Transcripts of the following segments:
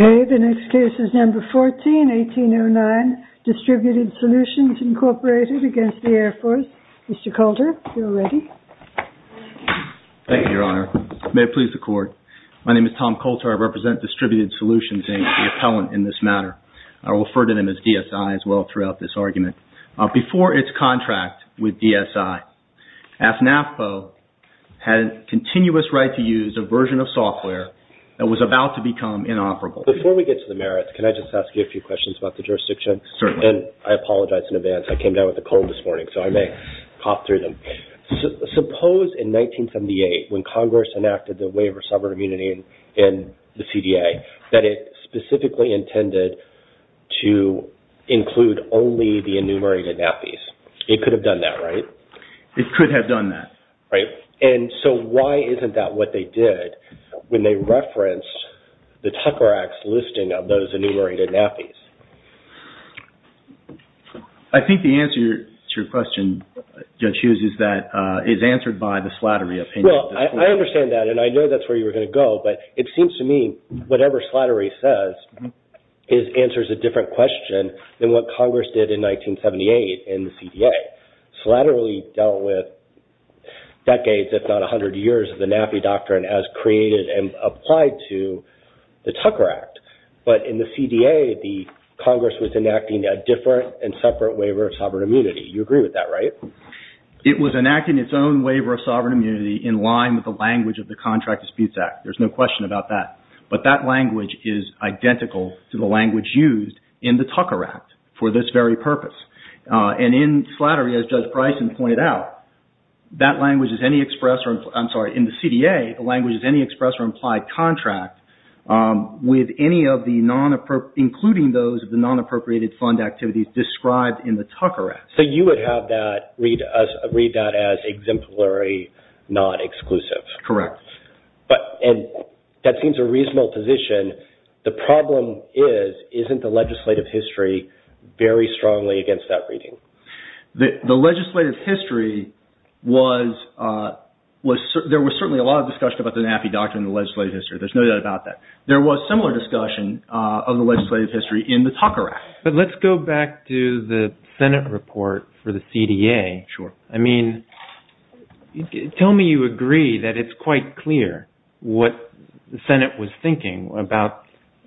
Okay, the next case is number 14, 1809, Distributed Solutions, Incorporated, against the Air Force. Mr. Coulter, you're ready. Thank you, Your Honor. May it please the Court. My name is Tom Coulter. I represent Distributed Solutions, Inc., the appellant in this matter. I will refer to them as DSI as well throughout this argument. Before its contract with DSI, AFNAFPO had a continuous right to use a version of software that was about to become inoperable. Before we get to the merits, can I just ask you a few questions about the jurisdiction? Certainly. And I apologize in advance. I came down with a cold this morning, so I may cough through them. Suppose in 1978, when Congress enacted the waiver of sovereign immunity in the CDA, that it specifically intended to include only the enumerated NAPIs. It could have done that, right? It could have done that. Right. And so why isn't that what they did when they referenced the Tucker Act's listing of those enumerated NAPIs? I think the answer to your question, Judge Hughes, is that it's answered by the slattery opinion. Well, I understand that, and I know that's where you were going to go, but it seems to me whatever slattery says answers a different question than what Congress did in 1978 in the CDA. Slattery dealt with decades, if not a hundred years, of the NAPI doctrine as created and applied to the Tucker Act. But in the CDA, the Congress was enacting a different and separate waiver of sovereign immunity. You agree with that, right? It was enacting its own waiver of sovereign immunity in line with the language of the Contract Disputes Act. There's no question about that. But that language is identical to the language used in the Tucker Act for this very purpose. And in slattery, as Judge Price had pointed out, that language is any express or, I'm sorry, in the CDA, the language is any express or implied contract with any of the non-appropriated, including those of the non-appropriated fund activities described in the Tucker Act. So you would have that, read that as exemplary, not exclusive. Correct. But, and that seems a reasonable position. The problem is, isn't the legislative history very strongly against that reading? The legislative history was, there was certainly a lot of discussion about the NAPI doctrine in the legislative history. There's no doubt about that. There was similar discussion of the legislative history in the Tucker Act. But let's go back to the Senate report for the CDA. Sure. I mean, tell me you agree that it's quite clear what the Senate was thinking about,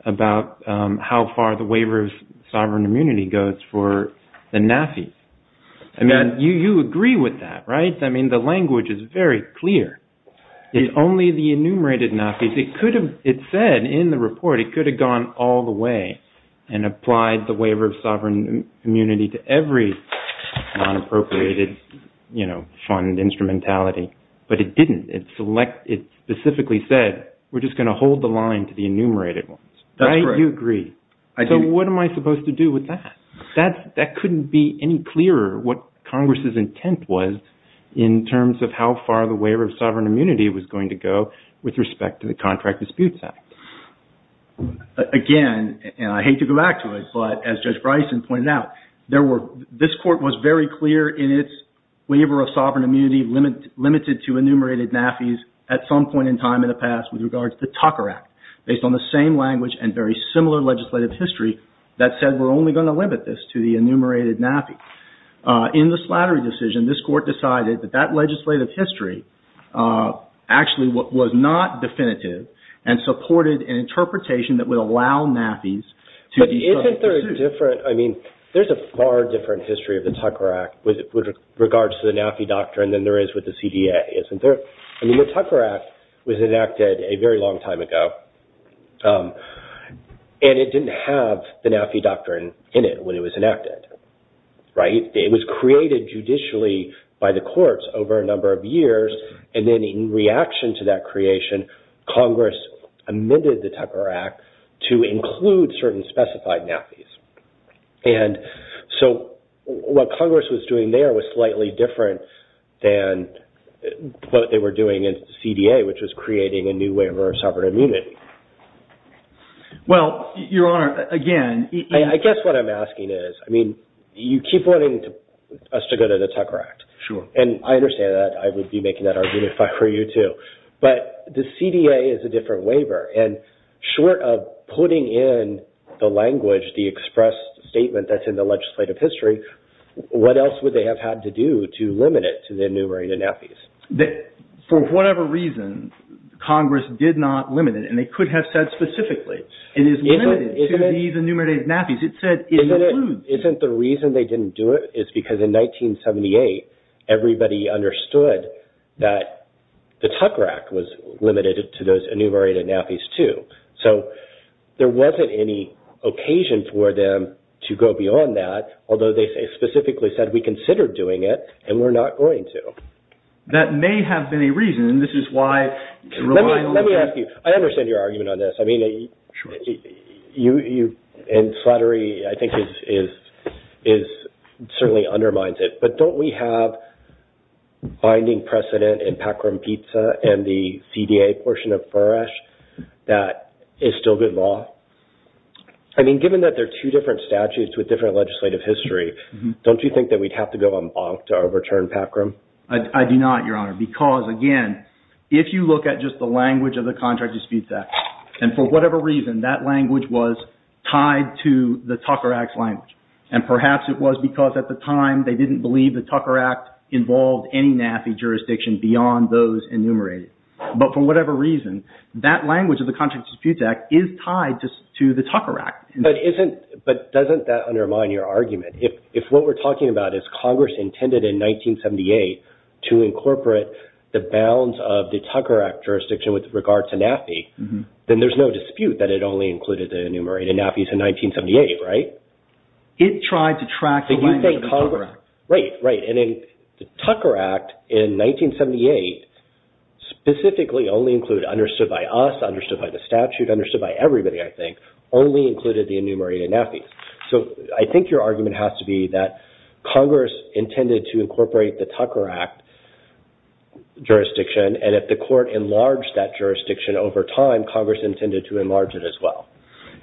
about how far the waiver of sovereign immunity goes for the NAPI. I mean, you agree with that, right? I mean, the language is very clear. It's only the enumerated NAPIs. It could have, it said in the report, it could have gone all the way and applied the waiver of sovereign immunity to every non-appropriated, you know, fund instrumentality. But it didn't. It select, it specifically said, we're just going to hold the line to the enumerated ones. That's right. You agree. So what am I supposed to do with that? That couldn't be any clearer what Congress's intent was in terms of how far the waiver of sovereign immunity was going to go with respect to the Contract Disputes Act. Again, and I hate to go back to it, but as Judge Bryson pointed out, there were, this court was very clear in its waiver of sovereign immunity limited to enumerated NAPIs at some point in time in the past with regards to Tucker Act, based on the same language and very similar legislative history that said we're only going to limit this to the enumerated NAPI. In the Slattery decision, this court decided that that legislative history actually was not definitive and supported an interpretation that would allow NAPIs to be subject to suit. But isn't there a different, I mean, there's a far different history of the Tucker Act with regards to the NAPI doctrine than there is with the CDA, isn't there? I mean, the Tucker Act was enacted a very long time ago and it didn't have the NAPI doctrine in it when it was enacted, right? It was created judicially by the courts over a number of years and then in reaction to that creation, Congress amended the Tucker Act to include certain specified NAPIs. And so what Congress was doing there was slightly different than what they were doing in CDA, which was creating a new waiver of sovereign immunity. Well, Your Honor, again, I guess what I'm asking is, I mean, you keep wanting us to go to the Tucker Act. Sure. And I understand that. I would be making that argument if I were you, too. But the CDA is a different waiver and short of putting in the language, the expressed statement that's in the legislative history, what else would they have had to do to limit it to the enumerated NAPIs? For whatever reason, Congress did not limit it and they could have said specifically, it is limited to the enumerated NAPIs. It said it includes. Isn't the reason they didn't do it is because in 1978, everybody understood that the Tucker Act was limited to those enumerated NAPIs, too. So there wasn't any occasion for them to go beyond that, although they specifically said we considered doing it and we're not going to. That may have been a reason. This is why... Let me ask you. I understand your argument on this. I mean... Sure. You... And flattery, I think, certainly undermines it. But don't we have binding precedent in PACRM-PTSA and the CDA portion of FRESH that is still good law? I mean, given that there are two different statutes with different legislative history, don't you think that we'd have to go on bonk to overturn PACRM? I do not, Your Honor, because again, if you look at just the language of the contract disputes act, and for whatever reason, that language was tied to the Tucker Act's language. And perhaps it was because at the time they didn't believe the Tucker Act involved any NAPI jurisdiction beyond those enumerated. But for whatever reason, that language of the contract disputes act is tied to the Tucker Act. But isn't... But doesn't that undermine your argument? If what we're talking about is Congress intended in 1978 to incorporate the bounds of the Tucker Act jurisdiction with regard to NAPI, then there's no dispute that it only included the enumerated NAPIs in 1978, right? It tried to track the language of the Tucker Act. Right, right. And the Tucker Act in 1978 specifically only included, understood by us, understood by the statute, understood by everybody, I think, only included the enumerated NAPIs. So I think your argument has to be that Congress intended to incorporate the Tucker Act jurisdiction. And if the court enlarged that jurisdiction over time, Congress intended to enlarge it as well.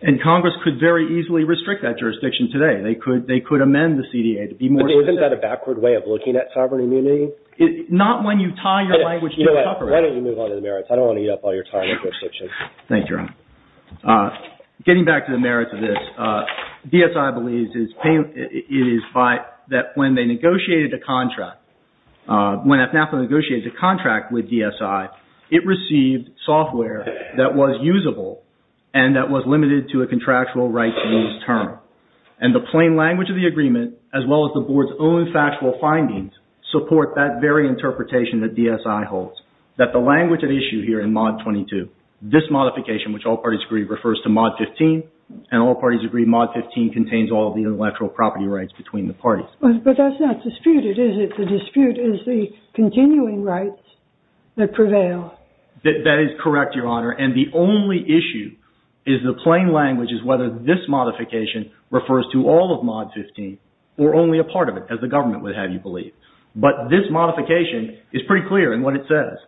And Congress could very easily restrict that jurisdiction today. They could amend the CDA to be more specific. Isn't that a backward way of looking at sovereign immunity? Not when you tie your language to the Tucker Act. Why don't you move on to the merits? I don't want to eat up all your time and jurisdiction. Thank you, Ron. Getting back to the merits of this, DSI believes it is by... When FNAFA negotiated a contract with DSI, it received software that was usable and that was limited to a contractual right to use term. And the plain language of the agreement, as well as the board's own factual findings, support that very interpretation that DSI holds. That the language at issue here in Mod 22, this modification, which all parties agree, refers to Mod 15. And all parties agree Mod 15 contains all of the intellectual property rights between the parties. But that's not disputed, is it? That the dispute is the continuing rights that prevail. That is correct, Your Honor. And the only issue is the plain language is whether this modification refers to all of Mod 15 or only a part of it, as the government would have you believe. But this modification is pretty clear in what it says.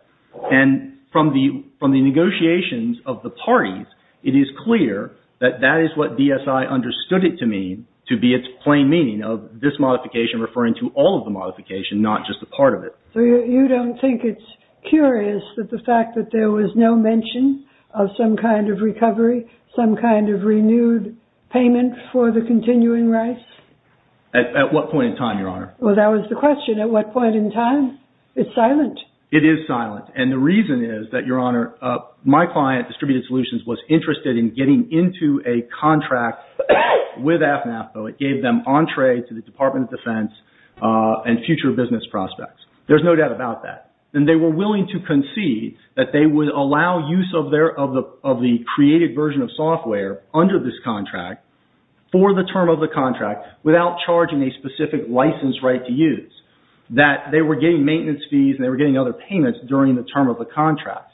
And from the negotiations of the parties, it is clear that that is what DSI understood it to mean, to be its plain meaning of this modification referring to all of the modification, not just a part of it. So you don't think it's curious that the fact that there was no mention of some kind of recovery, some kind of renewed payment for the continuing rights? At what point in time, Your Honor? Well, that was the question. At what point in time? It's silent. It is silent. And the reason is that, Your Honor, my client, Distributed Solutions, was interested in getting into a contract with AFNAFPA that gave them entree to the Department of Defense and future business prospects. There is no doubt about that. And they were willing to concede that they would allow use of the created version of software under this contract for the term of the contract without charging a specific license right to use. That they were getting maintenance fees and they were getting other payments during the term of the contract.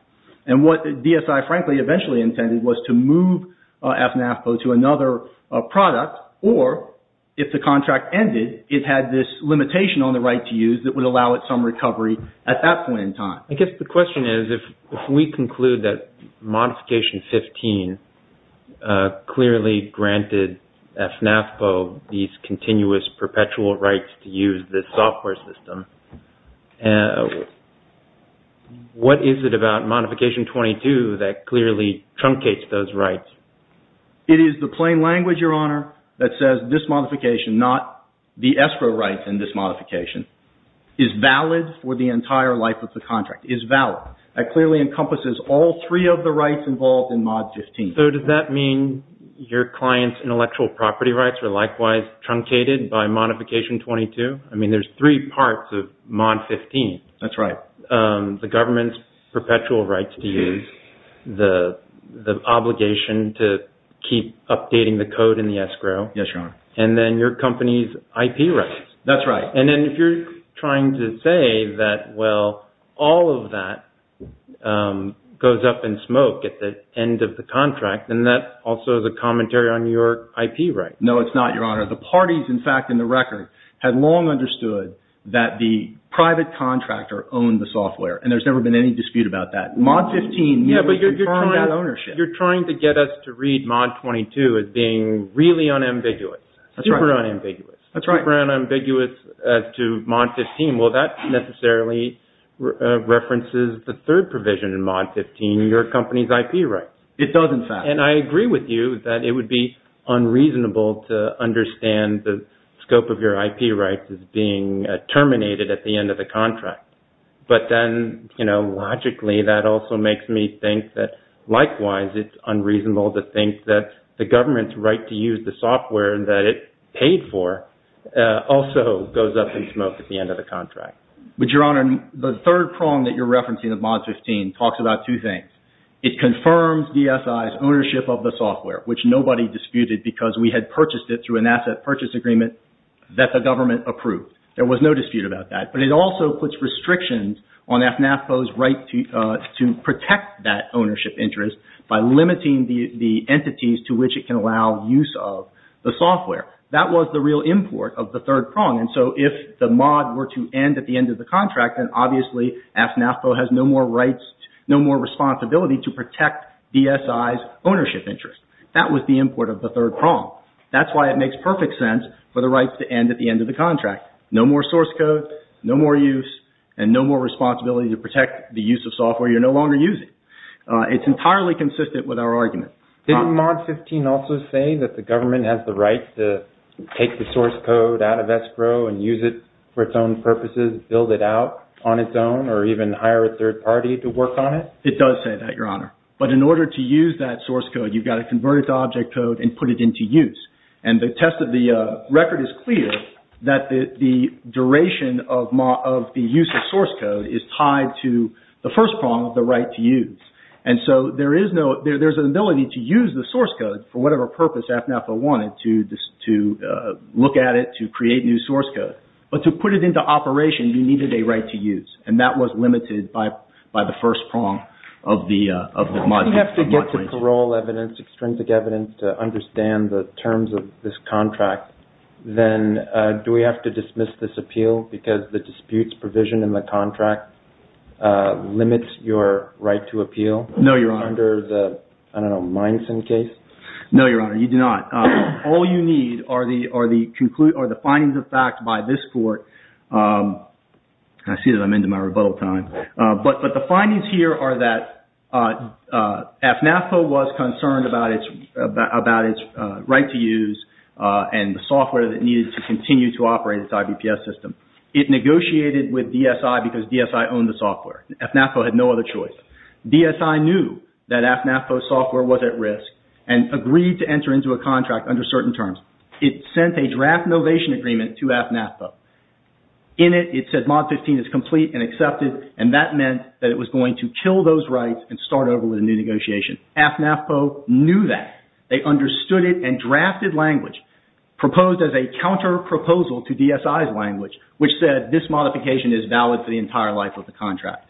And what DSI, frankly, eventually intended was to move AFNAFPA to another product or if the contract ended, it had this limitation on the right to use that would allow it some recovery at that point in time. I guess the question is, if we conclude that Modification 15 clearly granted AFNAFPA these rights, is it Modification 22 that clearly truncates those rights? It is the plain language, Your Honor, that says this modification, not the escrow rights in this modification, is valid for the entire life of the contract. Is valid. That clearly encompasses all three of the rights involved in Mod 15. So does that mean your client's intellectual property rights are likewise truncated by Modification 22? I mean, there's three parts of Mod 15. That's right. The government's perpetual rights to use, the obligation to keep updating the code in the escrow. Yes, Your Honor. And then your company's IP rights. That's right. And then if you're trying to say that, well, all of that goes up in smoke at the end of the contract, then that also is a commentary on your IP rights. No, it's not, Your Honor. The parties, in fact, in the record, had long understood that the private contractor owned the software, and there's never been any dispute about that. Mod 15 means that you've earned that ownership. You're trying to get us to read Mod 22 as being really unambiguous, super unambiguous. That's right. Super unambiguous as to Mod 15. Well, that necessarily references the third provision in Mod 15, your company's IP rights. It does, in fact. And I agree with you that it would be unreasonable to understand the scope of your IP rights as being terminated at the end of the contract. But then, you know, logically, that also makes me think that, likewise, it's unreasonable to think that the government's right to use the software that it paid for also goes up in smoke at the end of the contract. But, Your Honor, the third prong that you're referencing of Mod 15 talks about two things. It confirms DSI's ownership of the software, which nobody disputed because we had purchased it through an asset purchase agreement that the government approved. There was no dispute about that. But it also puts restrictions on FNAFPO's right to protect that ownership interest by limiting the entities to which it can allow use of the software. That was the real import of the third prong. And so, if the mod were to end at the end of the contract, then, obviously, FNAFPO has no more rights, no more responsibility to protect DSI's ownership interest. That was the import of the third prong. That's why it makes perfect sense for the rights to end at the end of the contract. No more source code, no more use, and no more responsibility to protect the use of software you're no longer using. It's entirely consistent with our argument. Didn't Mod 15 also say that the government has the right to take the source code out of escrow and use it for its own purposes, build it out on its own, or even hire a third party to work on it? It does say that, Your Honor. But in order to use that source code, you've got to convert it to object code and put it into use. And the test of the record is clear that the duration of the use of source code is tied to the first prong of the right to use. And so, there is an ability to use the source code for whatever purpose FNAFPO wanted, to look at it, to create new source code. But to put it into operation, you needed a right to use. And that was limited by the first prong of the Mod 15. Do we have to get the parole evidence, extrinsic evidence, to understand the terms of this contract? Then, do we have to dismiss this appeal because the disputes provision in the contract limits your right to appeal? No, Your Honor. Under the, I don't know, Mineson case? No, Your Honor. You do not. All you need are the findings of fact by this court. I see that I'm into my rebuttal time. But the findings here are that FNAFPO was concerned about its right to use and the software that needed to continue to operate its IBPS system. It negotiated with DSI because DSI owned the software. FNAFPO had no other choice. DSI knew that FNAFPO's software was at risk and agreed to enter into a contract under certain terms. It sent a draft novation agreement to FNAFPO. In it, it said Mod 15 is complete and accepted, and that meant that it was going to kill those rights and start over with a new negotiation. FNAFPO knew that. They understood it and drafted language proposed as a counter proposal to DSI's language, which said this modification is valid for the entire life of the contract.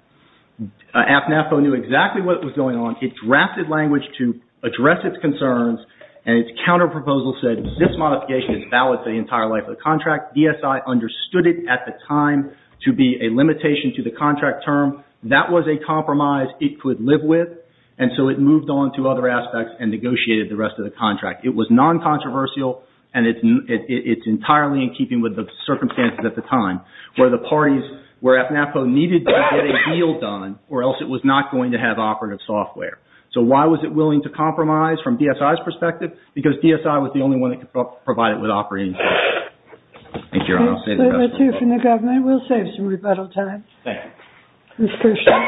FNAFPO knew exactly what was going on. It drafted language to address its concerns, and its counter proposal said this modification is valid for the entire life of the contract. DSI understood it at the time to be a limitation to the contract term. That was a compromise it could live with, and so it moved on to other aspects and negotiated the rest of the contract. It was non-controversial, and it's entirely in keeping with the circumstances at the time where the parties, where FNAFPO needed to get a deal done, or else it was not going to have operative software. So why was it willing to compromise from DSI's perspective? Because DSI was the only one that could provide it with operating software. Thank you, Your Honor. I'll say the rest of the report. That's it from the government. We'll save some rebuttal time. Thank you. Ms. Kershaw.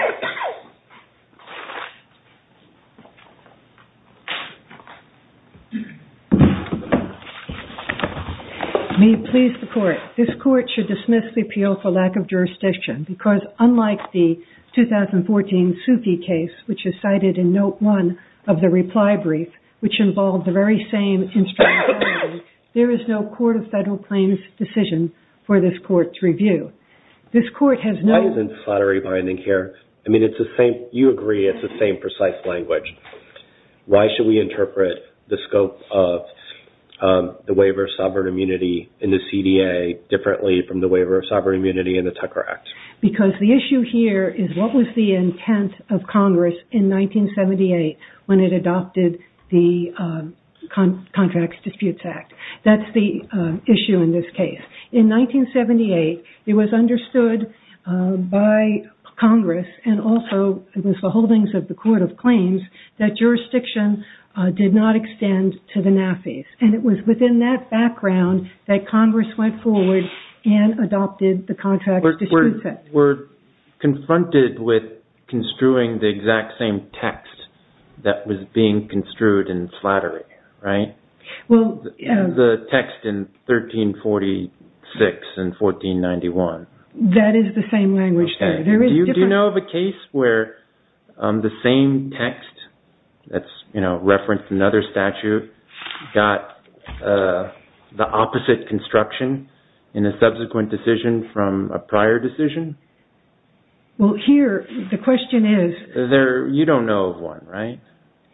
May it please the Court, this Court should dismiss the appeal for lack of jurisdiction because unlike the 2014 Sufi case, which is cited in Note 1 of the reply brief, which involved the very same instruction, there is no Court of Federal Claims decision for this Court's review. This Court has no... I mean, you agree it's the same precise language. Why should we interpret the scope of the Waiver of Sovereign Immunity in the CDA differently from the Waiver of Sovereign Immunity in the Tucker Act? Because the issue here is what was the intent of Congress in 1978 when it adopted the Contracts Disputes Act. That's the issue in this case. In 1978, it was understood by Congress and also it was the holdings of the Court of Claims that jurisdiction did not extend to the Nafis and it was within that background that Congress went forward and adopted the Contracts Disputes Act. We're confronted with construing the exact same text that was being construed in Slattery, right? Well... The text in 1346 and 1491. That is the same language there. Do you know of a case where the same text that's referenced in another statute got the opposite construction in a subsequent decision from a prior decision? Well, here, the question is... You don't know of one, right? I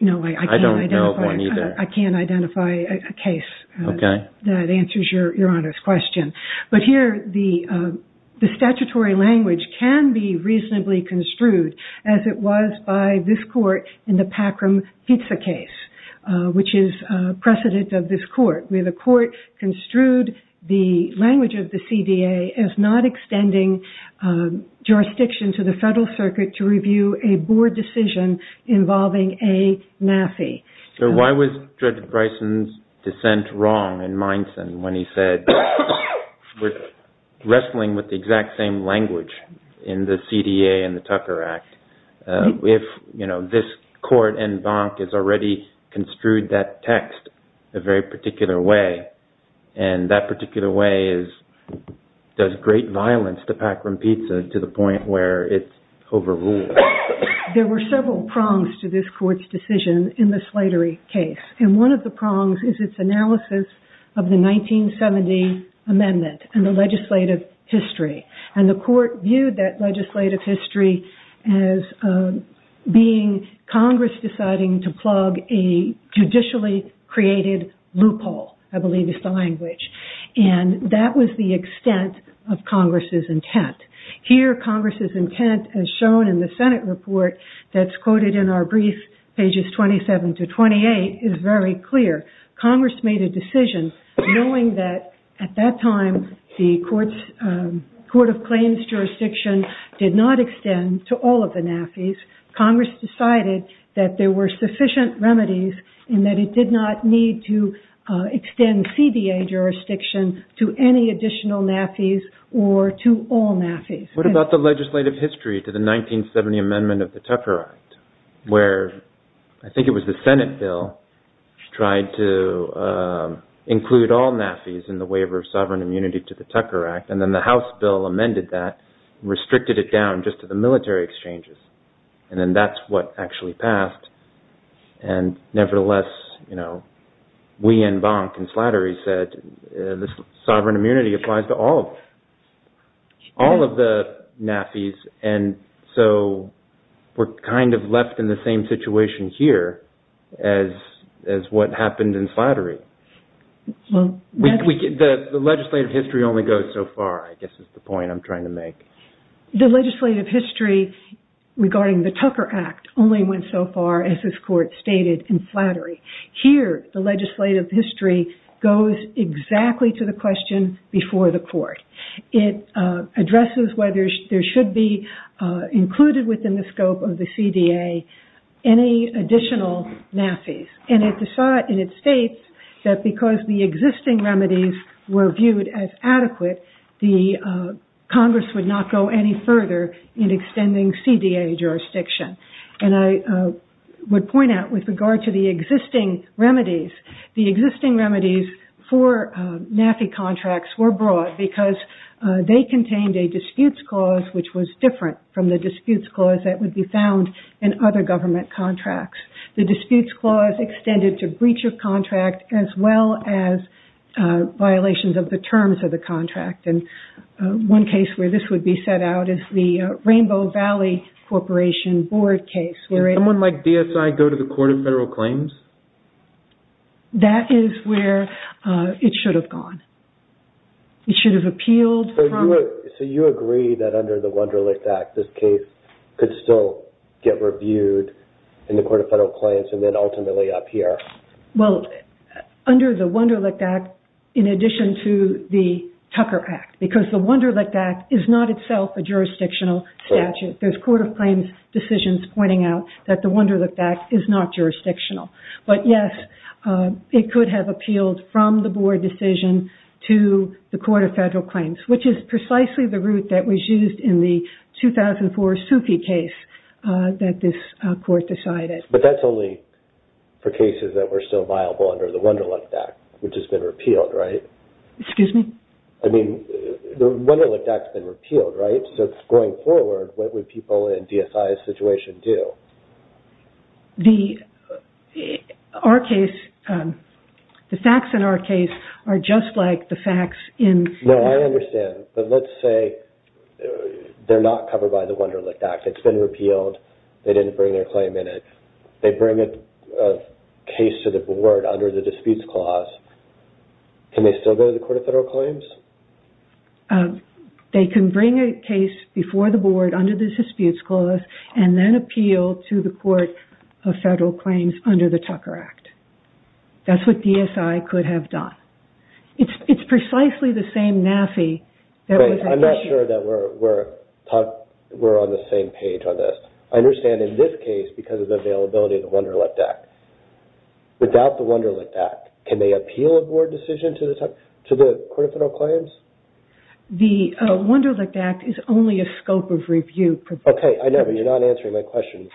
don't know of one either. I can't identify a case that answers Your Honor's question. But here, the statutory language can be reasonably construed as it was by this court in the Packram Pizza case, which is precedent of this court, where the court construed the language of the CDA as not extending jurisdiction to the Federal Circuit to review a board decision involving a Nafi. So why was Judge Bryson's dissent wrong in Mindson when he said we're wrestling with the exact same language in the CDA and the Tucker Act if this court in Bonk has already construed that text a very particular way and that particular way does great violence to Packram Pizza to the point where it's overruled? There were several prongs to this court's decision in the Slattery case, and one of the prongs is its analysis of the 1970 amendment and the legislative history. And the court viewed that legislative history as being Congress deciding to plug a judicially created loophole, I believe is the language, and that was the extent of Congress's intent. Here, Congress's intent, as shown in the Senate report that's quoted in our brief, pages 27 to 28, is very clear. Congress made a decision knowing that at that time the Court of Claims jurisdiction did not extend to all of the Nafis. Congress decided that there were sufficient remedies and that it did not need to extend What about the legislative history to the 1970 amendment of the Tucker Act, where I think it was the Senate bill tried to include all Nafis in the waiver of sovereign immunity to the Tucker Act, and then the House bill amended that, restricted it down just to the military exchanges, and then that's what actually passed. And nevertheless, you know, we in Bonk and Slattery said this sovereign immunity applies to all of the Nafis, and so we're kind of left in the same situation here as what happened in Slattery. The legislative history only goes so far, I guess is the point I'm trying to make. The legislative history regarding the Tucker Act only went so far, as this court stated, in Slattery. Here, the legislative history goes exactly to the question before the court. It addresses whether there should be included within the scope of the CDA any additional Nafis, and it states that because the existing remedies were viewed as adequate, the Congress would not go any further in extending CDA jurisdiction. And I would point out with regard to the existing remedies, the existing remedies for Nafi contracts were broad because they contained a disputes clause which was different from the disputes clause that would be found in other government contracts. The disputes clause extended to breach of contract as well as violations of the terms of the contract, and one case where this would be set out is the Rainbow Valley Corporation board case. Someone like DSI go to the Court of Federal Claims? That is where it should have gone. It should have appealed. So you agree that under the Wunderlicht Act, this case could still get reviewed in the Court of Federal Claims and then ultimately up here? Well, under the Wunderlicht Act, in addition to the Tucker Act, because the Wunderlicht Act is not itself a jurisdictional statute. There's Court of Claims decisions pointing out that the Wunderlicht Act is not jurisdictional. But yes, it could have appealed from the board decision to the Court of Federal Claims, which is precisely the route that was used in the 2004 Sufi case that this court decided. But that's only for cases that were still viable under the Wunderlicht Act, which has been repealed, right? Excuse me? I mean, the Wunderlicht Act has been repealed, right? Going forward, what would people in DSI's situation do? The facts in our case are just like the facts in... No, I understand. But let's say they're not covered by the Wunderlicht Act. It's been repealed. They didn't bring their claim in it. They bring a case to the board under the disputes clause. Can they still go to the Court of Federal Claims? They can bring a case before the board under the disputes clause and then appeal to the Court of Federal Claims under the Tucker Act. That's what DSI could have done. It's precisely the same NAFI that was... I'm not sure that we're on the same page on this. I understand in this case, because of the availability of the Wunderlicht Act, without the Wunderlicht Act, can they appeal a board decision to the Court of Federal Claims? The Wunderlicht Act is only a scope of review. Okay, I know, but you're not answering my question.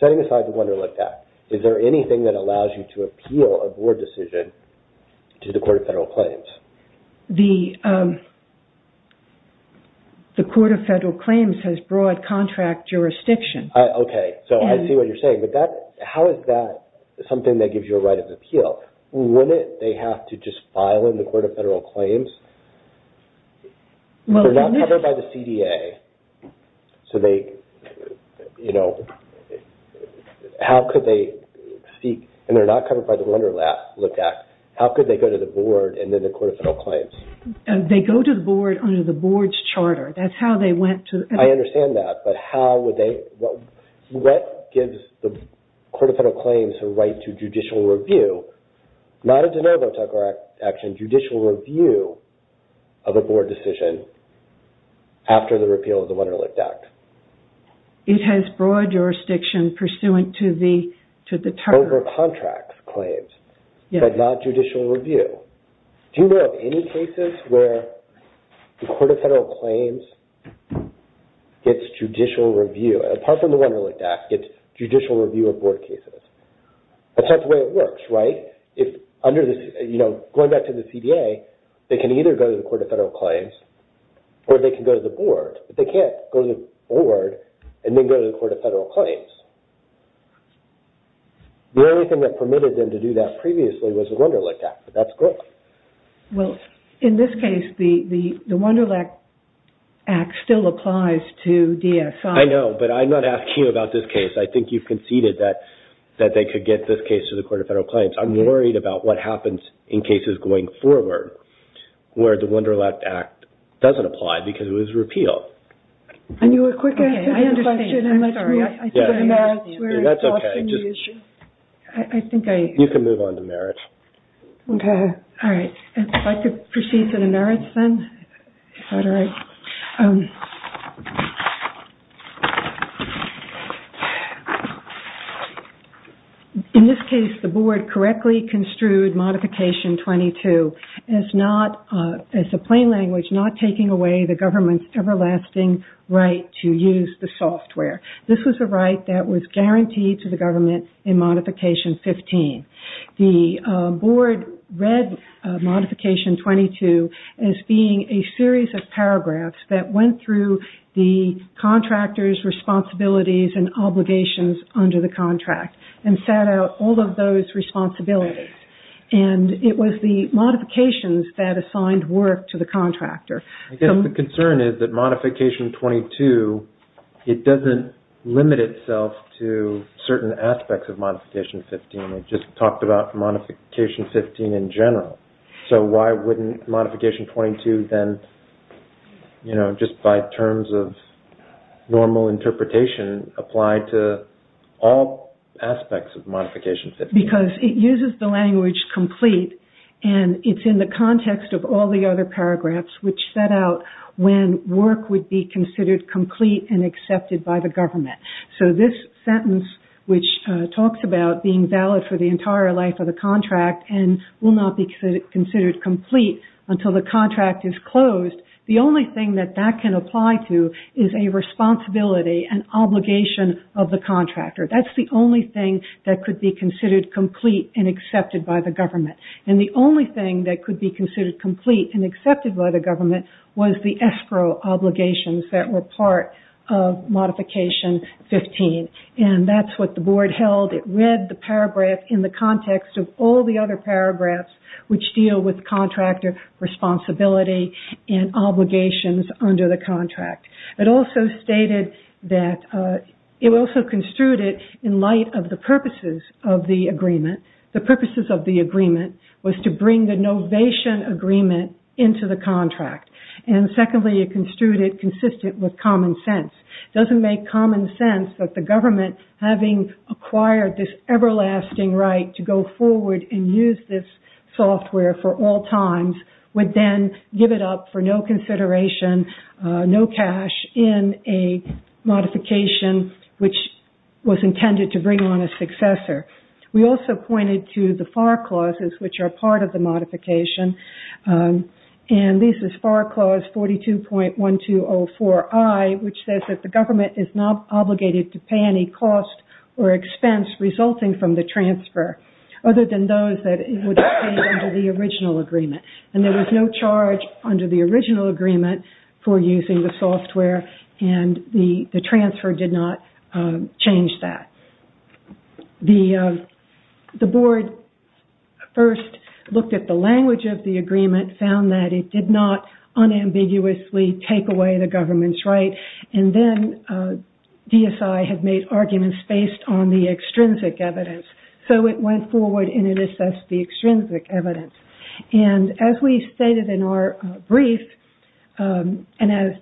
Setting aside the Wunderlicht Act, is there anything that allows you to appeal a board decision to the Court of Federal Claims? The Court of Federal Claims has broad contract jurisdiction. Okay, so I see what you're saying, but how is that something that gives you a right of appeal? Wouldn't they have to just file in the Court of Federal Claims? They're not covered by the CDA, so they... How could they seek... And they're not covered by the Wunderlicht Act. How could they go to the board and then the Court of Federal Claims? They go to the board under the board's charter. That's how they went to... I understand that, but how would they... What gives the Court of Federal Claims a right to judicial review? Not a de novo Tucker Act action, judicial review of a board decision after the repeal of the Wunderlicht Act. It has broad jurisdiction pursuant to the charter. Over contract claims, but not judicial review. Do you know of any cases where the Court of Federal Claims gets judicial review? Apart from the Wunderlicht Act, it's judicial review of board cases. That's not the way it works, right? Going back to the CDA, they can either go to the Court of Federal Claims or they can go to the board, but they can't go to the board and then go to the Court of Federal Claims. The only thing that permitted them to do that previously was the Wunderlicht Act, but that's great. Well, in this case, the Wunderlicht Act still applies to DSI. I know, but I'm not asking you about this case. I think you've conceded that they could get this case to the Court of Federal Claims. I'm worried about what happens in cases going forward where the Wunderlicht Act doesn't apply because it was repealed. I knew a quick answer to the question. I'm sorry. That's okay. You can move on to merits. Okay. All right. If I could proceed to the merits then. Okay. In this case, the board correctly construed Modification 22 as a plain language not taking away the government's everlasting right to use the software. This was a right that was guaranteed to the government in Modification 15. The board read Modification 22 as being a series of paragraphs that went through the contractor's responsibilities and obligations under the contract and sat out all of those responsibilities. It was the modifications that assigned work to the contractor. The concern is that Modification 22, it doesn't limit itself to certain aspects of Modification 15. It just talked about Modification 15 in general. So why wouldn't Modification 22 then, you know, just by terms of normal interpretation apply to all aspects of Modification 15? Because it uses the language complete and it's in the context of all the other paragraphs which set out when work would be considered complete and accepted by the government. So this sentence which talks about being valid for the entire life of the contract and will not be considered complete until the contract is closed, the only thing that that can apply to is a responsibility, an obligation of the contractor. That's the only thing that could be considered complete and accepted by the government. And the only thing that could be considered complete and accepted by the government was the escrow obligations that were part of Modification 15. And that's what the board held. It read the paragraph in the context of all the other paragraphs which deal with contractor responsibility and obligations under the contract. It also stated that, it also construed it in light of the purposes of the agreement. The purposes of the agreement was to bring the novation agreement into the contract. And secondly, it construed it consistent with common sense. It doesn't make common sense that the government, having acquired this everlasting right to go forward and use this software for all times, would then give it up for no consideration, no cash, in a modification which was intended to bring on a successor. We also pointed to the FAR clauses which are part of the modification. And this is FAR Clause 42.1204I which says that the government is not obligated to pay any cost or expense resulting from the transfer, other than those that would have been under the original agreement. And there was no charge under the original agreement for using the software and the transfer did not change that. The board first looked at the language of the agreement, found that it did not unambiguously take away the government's right. And then DSI had made arguments based on the extrinsic evidence. So it went forward and it assessed the extrinsic evidence. And as we stated in our brief, and as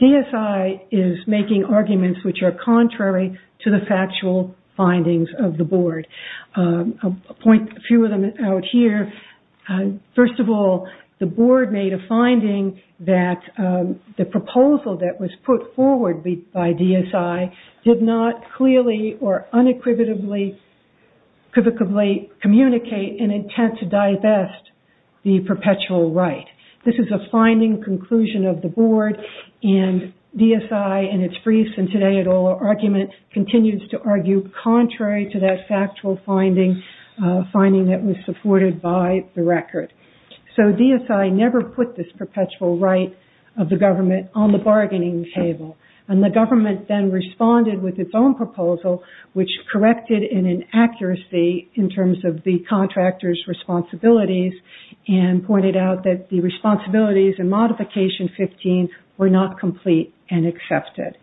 DSI is making arguments which are contrary to the factual findings of the board, I'll point a few of them out here. First of all, the board made a finding that the proposal that was put forward by DSI did clearly or unequivocally communicate an intent to divest the perpetual right. This is a finding conclusion of the board and DSI in its briefs and today at all argument continues to argue contrary to that factual finding that was supported by the record. So DSI never put this perpetual right of the government on the bargaining table. And the government then responded with its own proposal which corrected an inaccuracy in terms of the contractor's responsibilities and pointed out that the responsibilities and modification 15 were not complete and accepted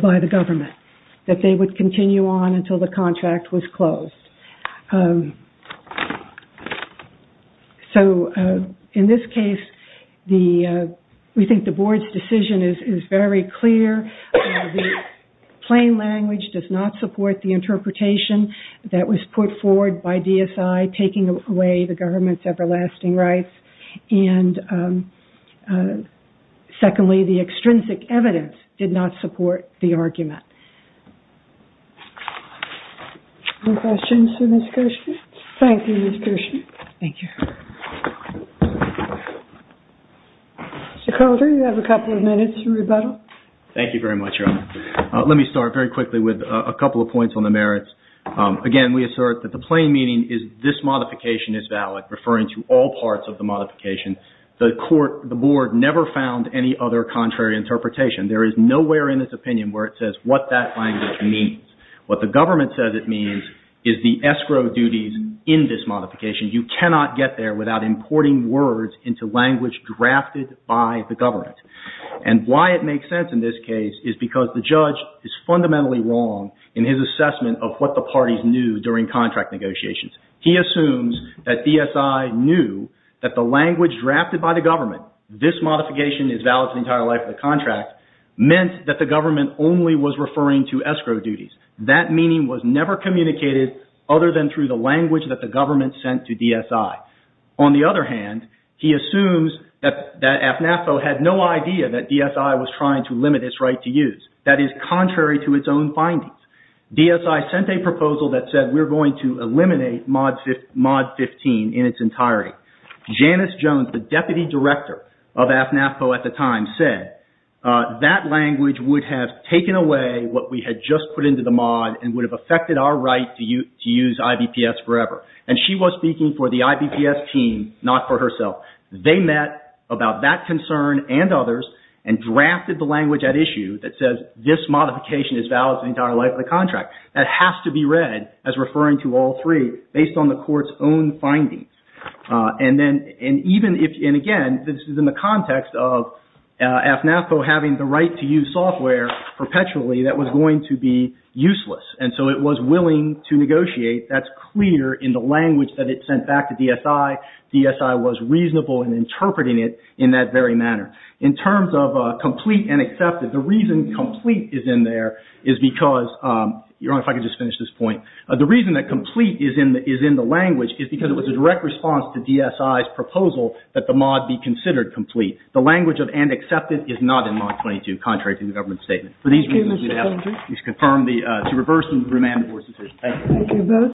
by the government, that they would continue on until the contract was closed. So in this case, we think the board's decision is very clear. The plain language does not support the interpretation that was put forward by DSI taking away the government's everlasting rights and secondly, the extrinsic evidence did not support the argument. No questions for Ms. Kirschner? Thank you, Ms. Kirschner. Thank you. Mr. Coulter, you have a couple of minutes to rebuttal. Thank you very much, Your Honor. Let me start very quickly with a couple of points on the merits. Again, we assert that the plain meaning is this modification is valid referring to all parts of the modification. The court, the board never found any other contrary interpretation. There is nowhere in this opinion where it says what that language means. What the government says it means is the escrow duties in this modification. You cannot get there without importing words into language drafted by the government and why it makes sense in this case is because the judge is fundamentally wrong in his assessment of what the parties knew during contract negotiations. He assumes that DSI knew that the language drafted by the government, this modification is valid for the entire life of the contract, meant that the government only was referring to escrow duties. That meaning was never communicated other than through the language that the government sent to DSI. On the other hand, he assumes that AFNAFPO had no idea that DSI was trying to limit its right to use. That is contrary to its own findings. DSI sent a proposal that said we're going to eliminate Mod 15 in its entirety. Janice Jones, the deputy director of AFNAFPO at the time said that language would have taken away what we had just put into the mod and would have affected our right to use IBPS forever. She was speaking for the IBPS team, not for herself. They met about that concern and others and drafted the language at issue that says this modification is valid for the entire life of the contract. That has to be read as referring to all three based on the court's own findings. Again, this is in the context of AFNAFPO having the right to use software perpetually that was going to be useless and so it was willing to negotiate. That's clear in the language that it sent back to DSI. DSI was reasonable in interpreting it in that very manner. In terms of complete and accepted, the reason complete is in there is because, Your Honor, if I could just finish this point. The reason that complete is in the language is because it was a direct response to DSI's proposal that the mod be considered complete. The language of and accepted is not in Mod 22, contrary to the government's statement. For these reasons, we have to confirm to reverse and remand the board's decision. Thank you.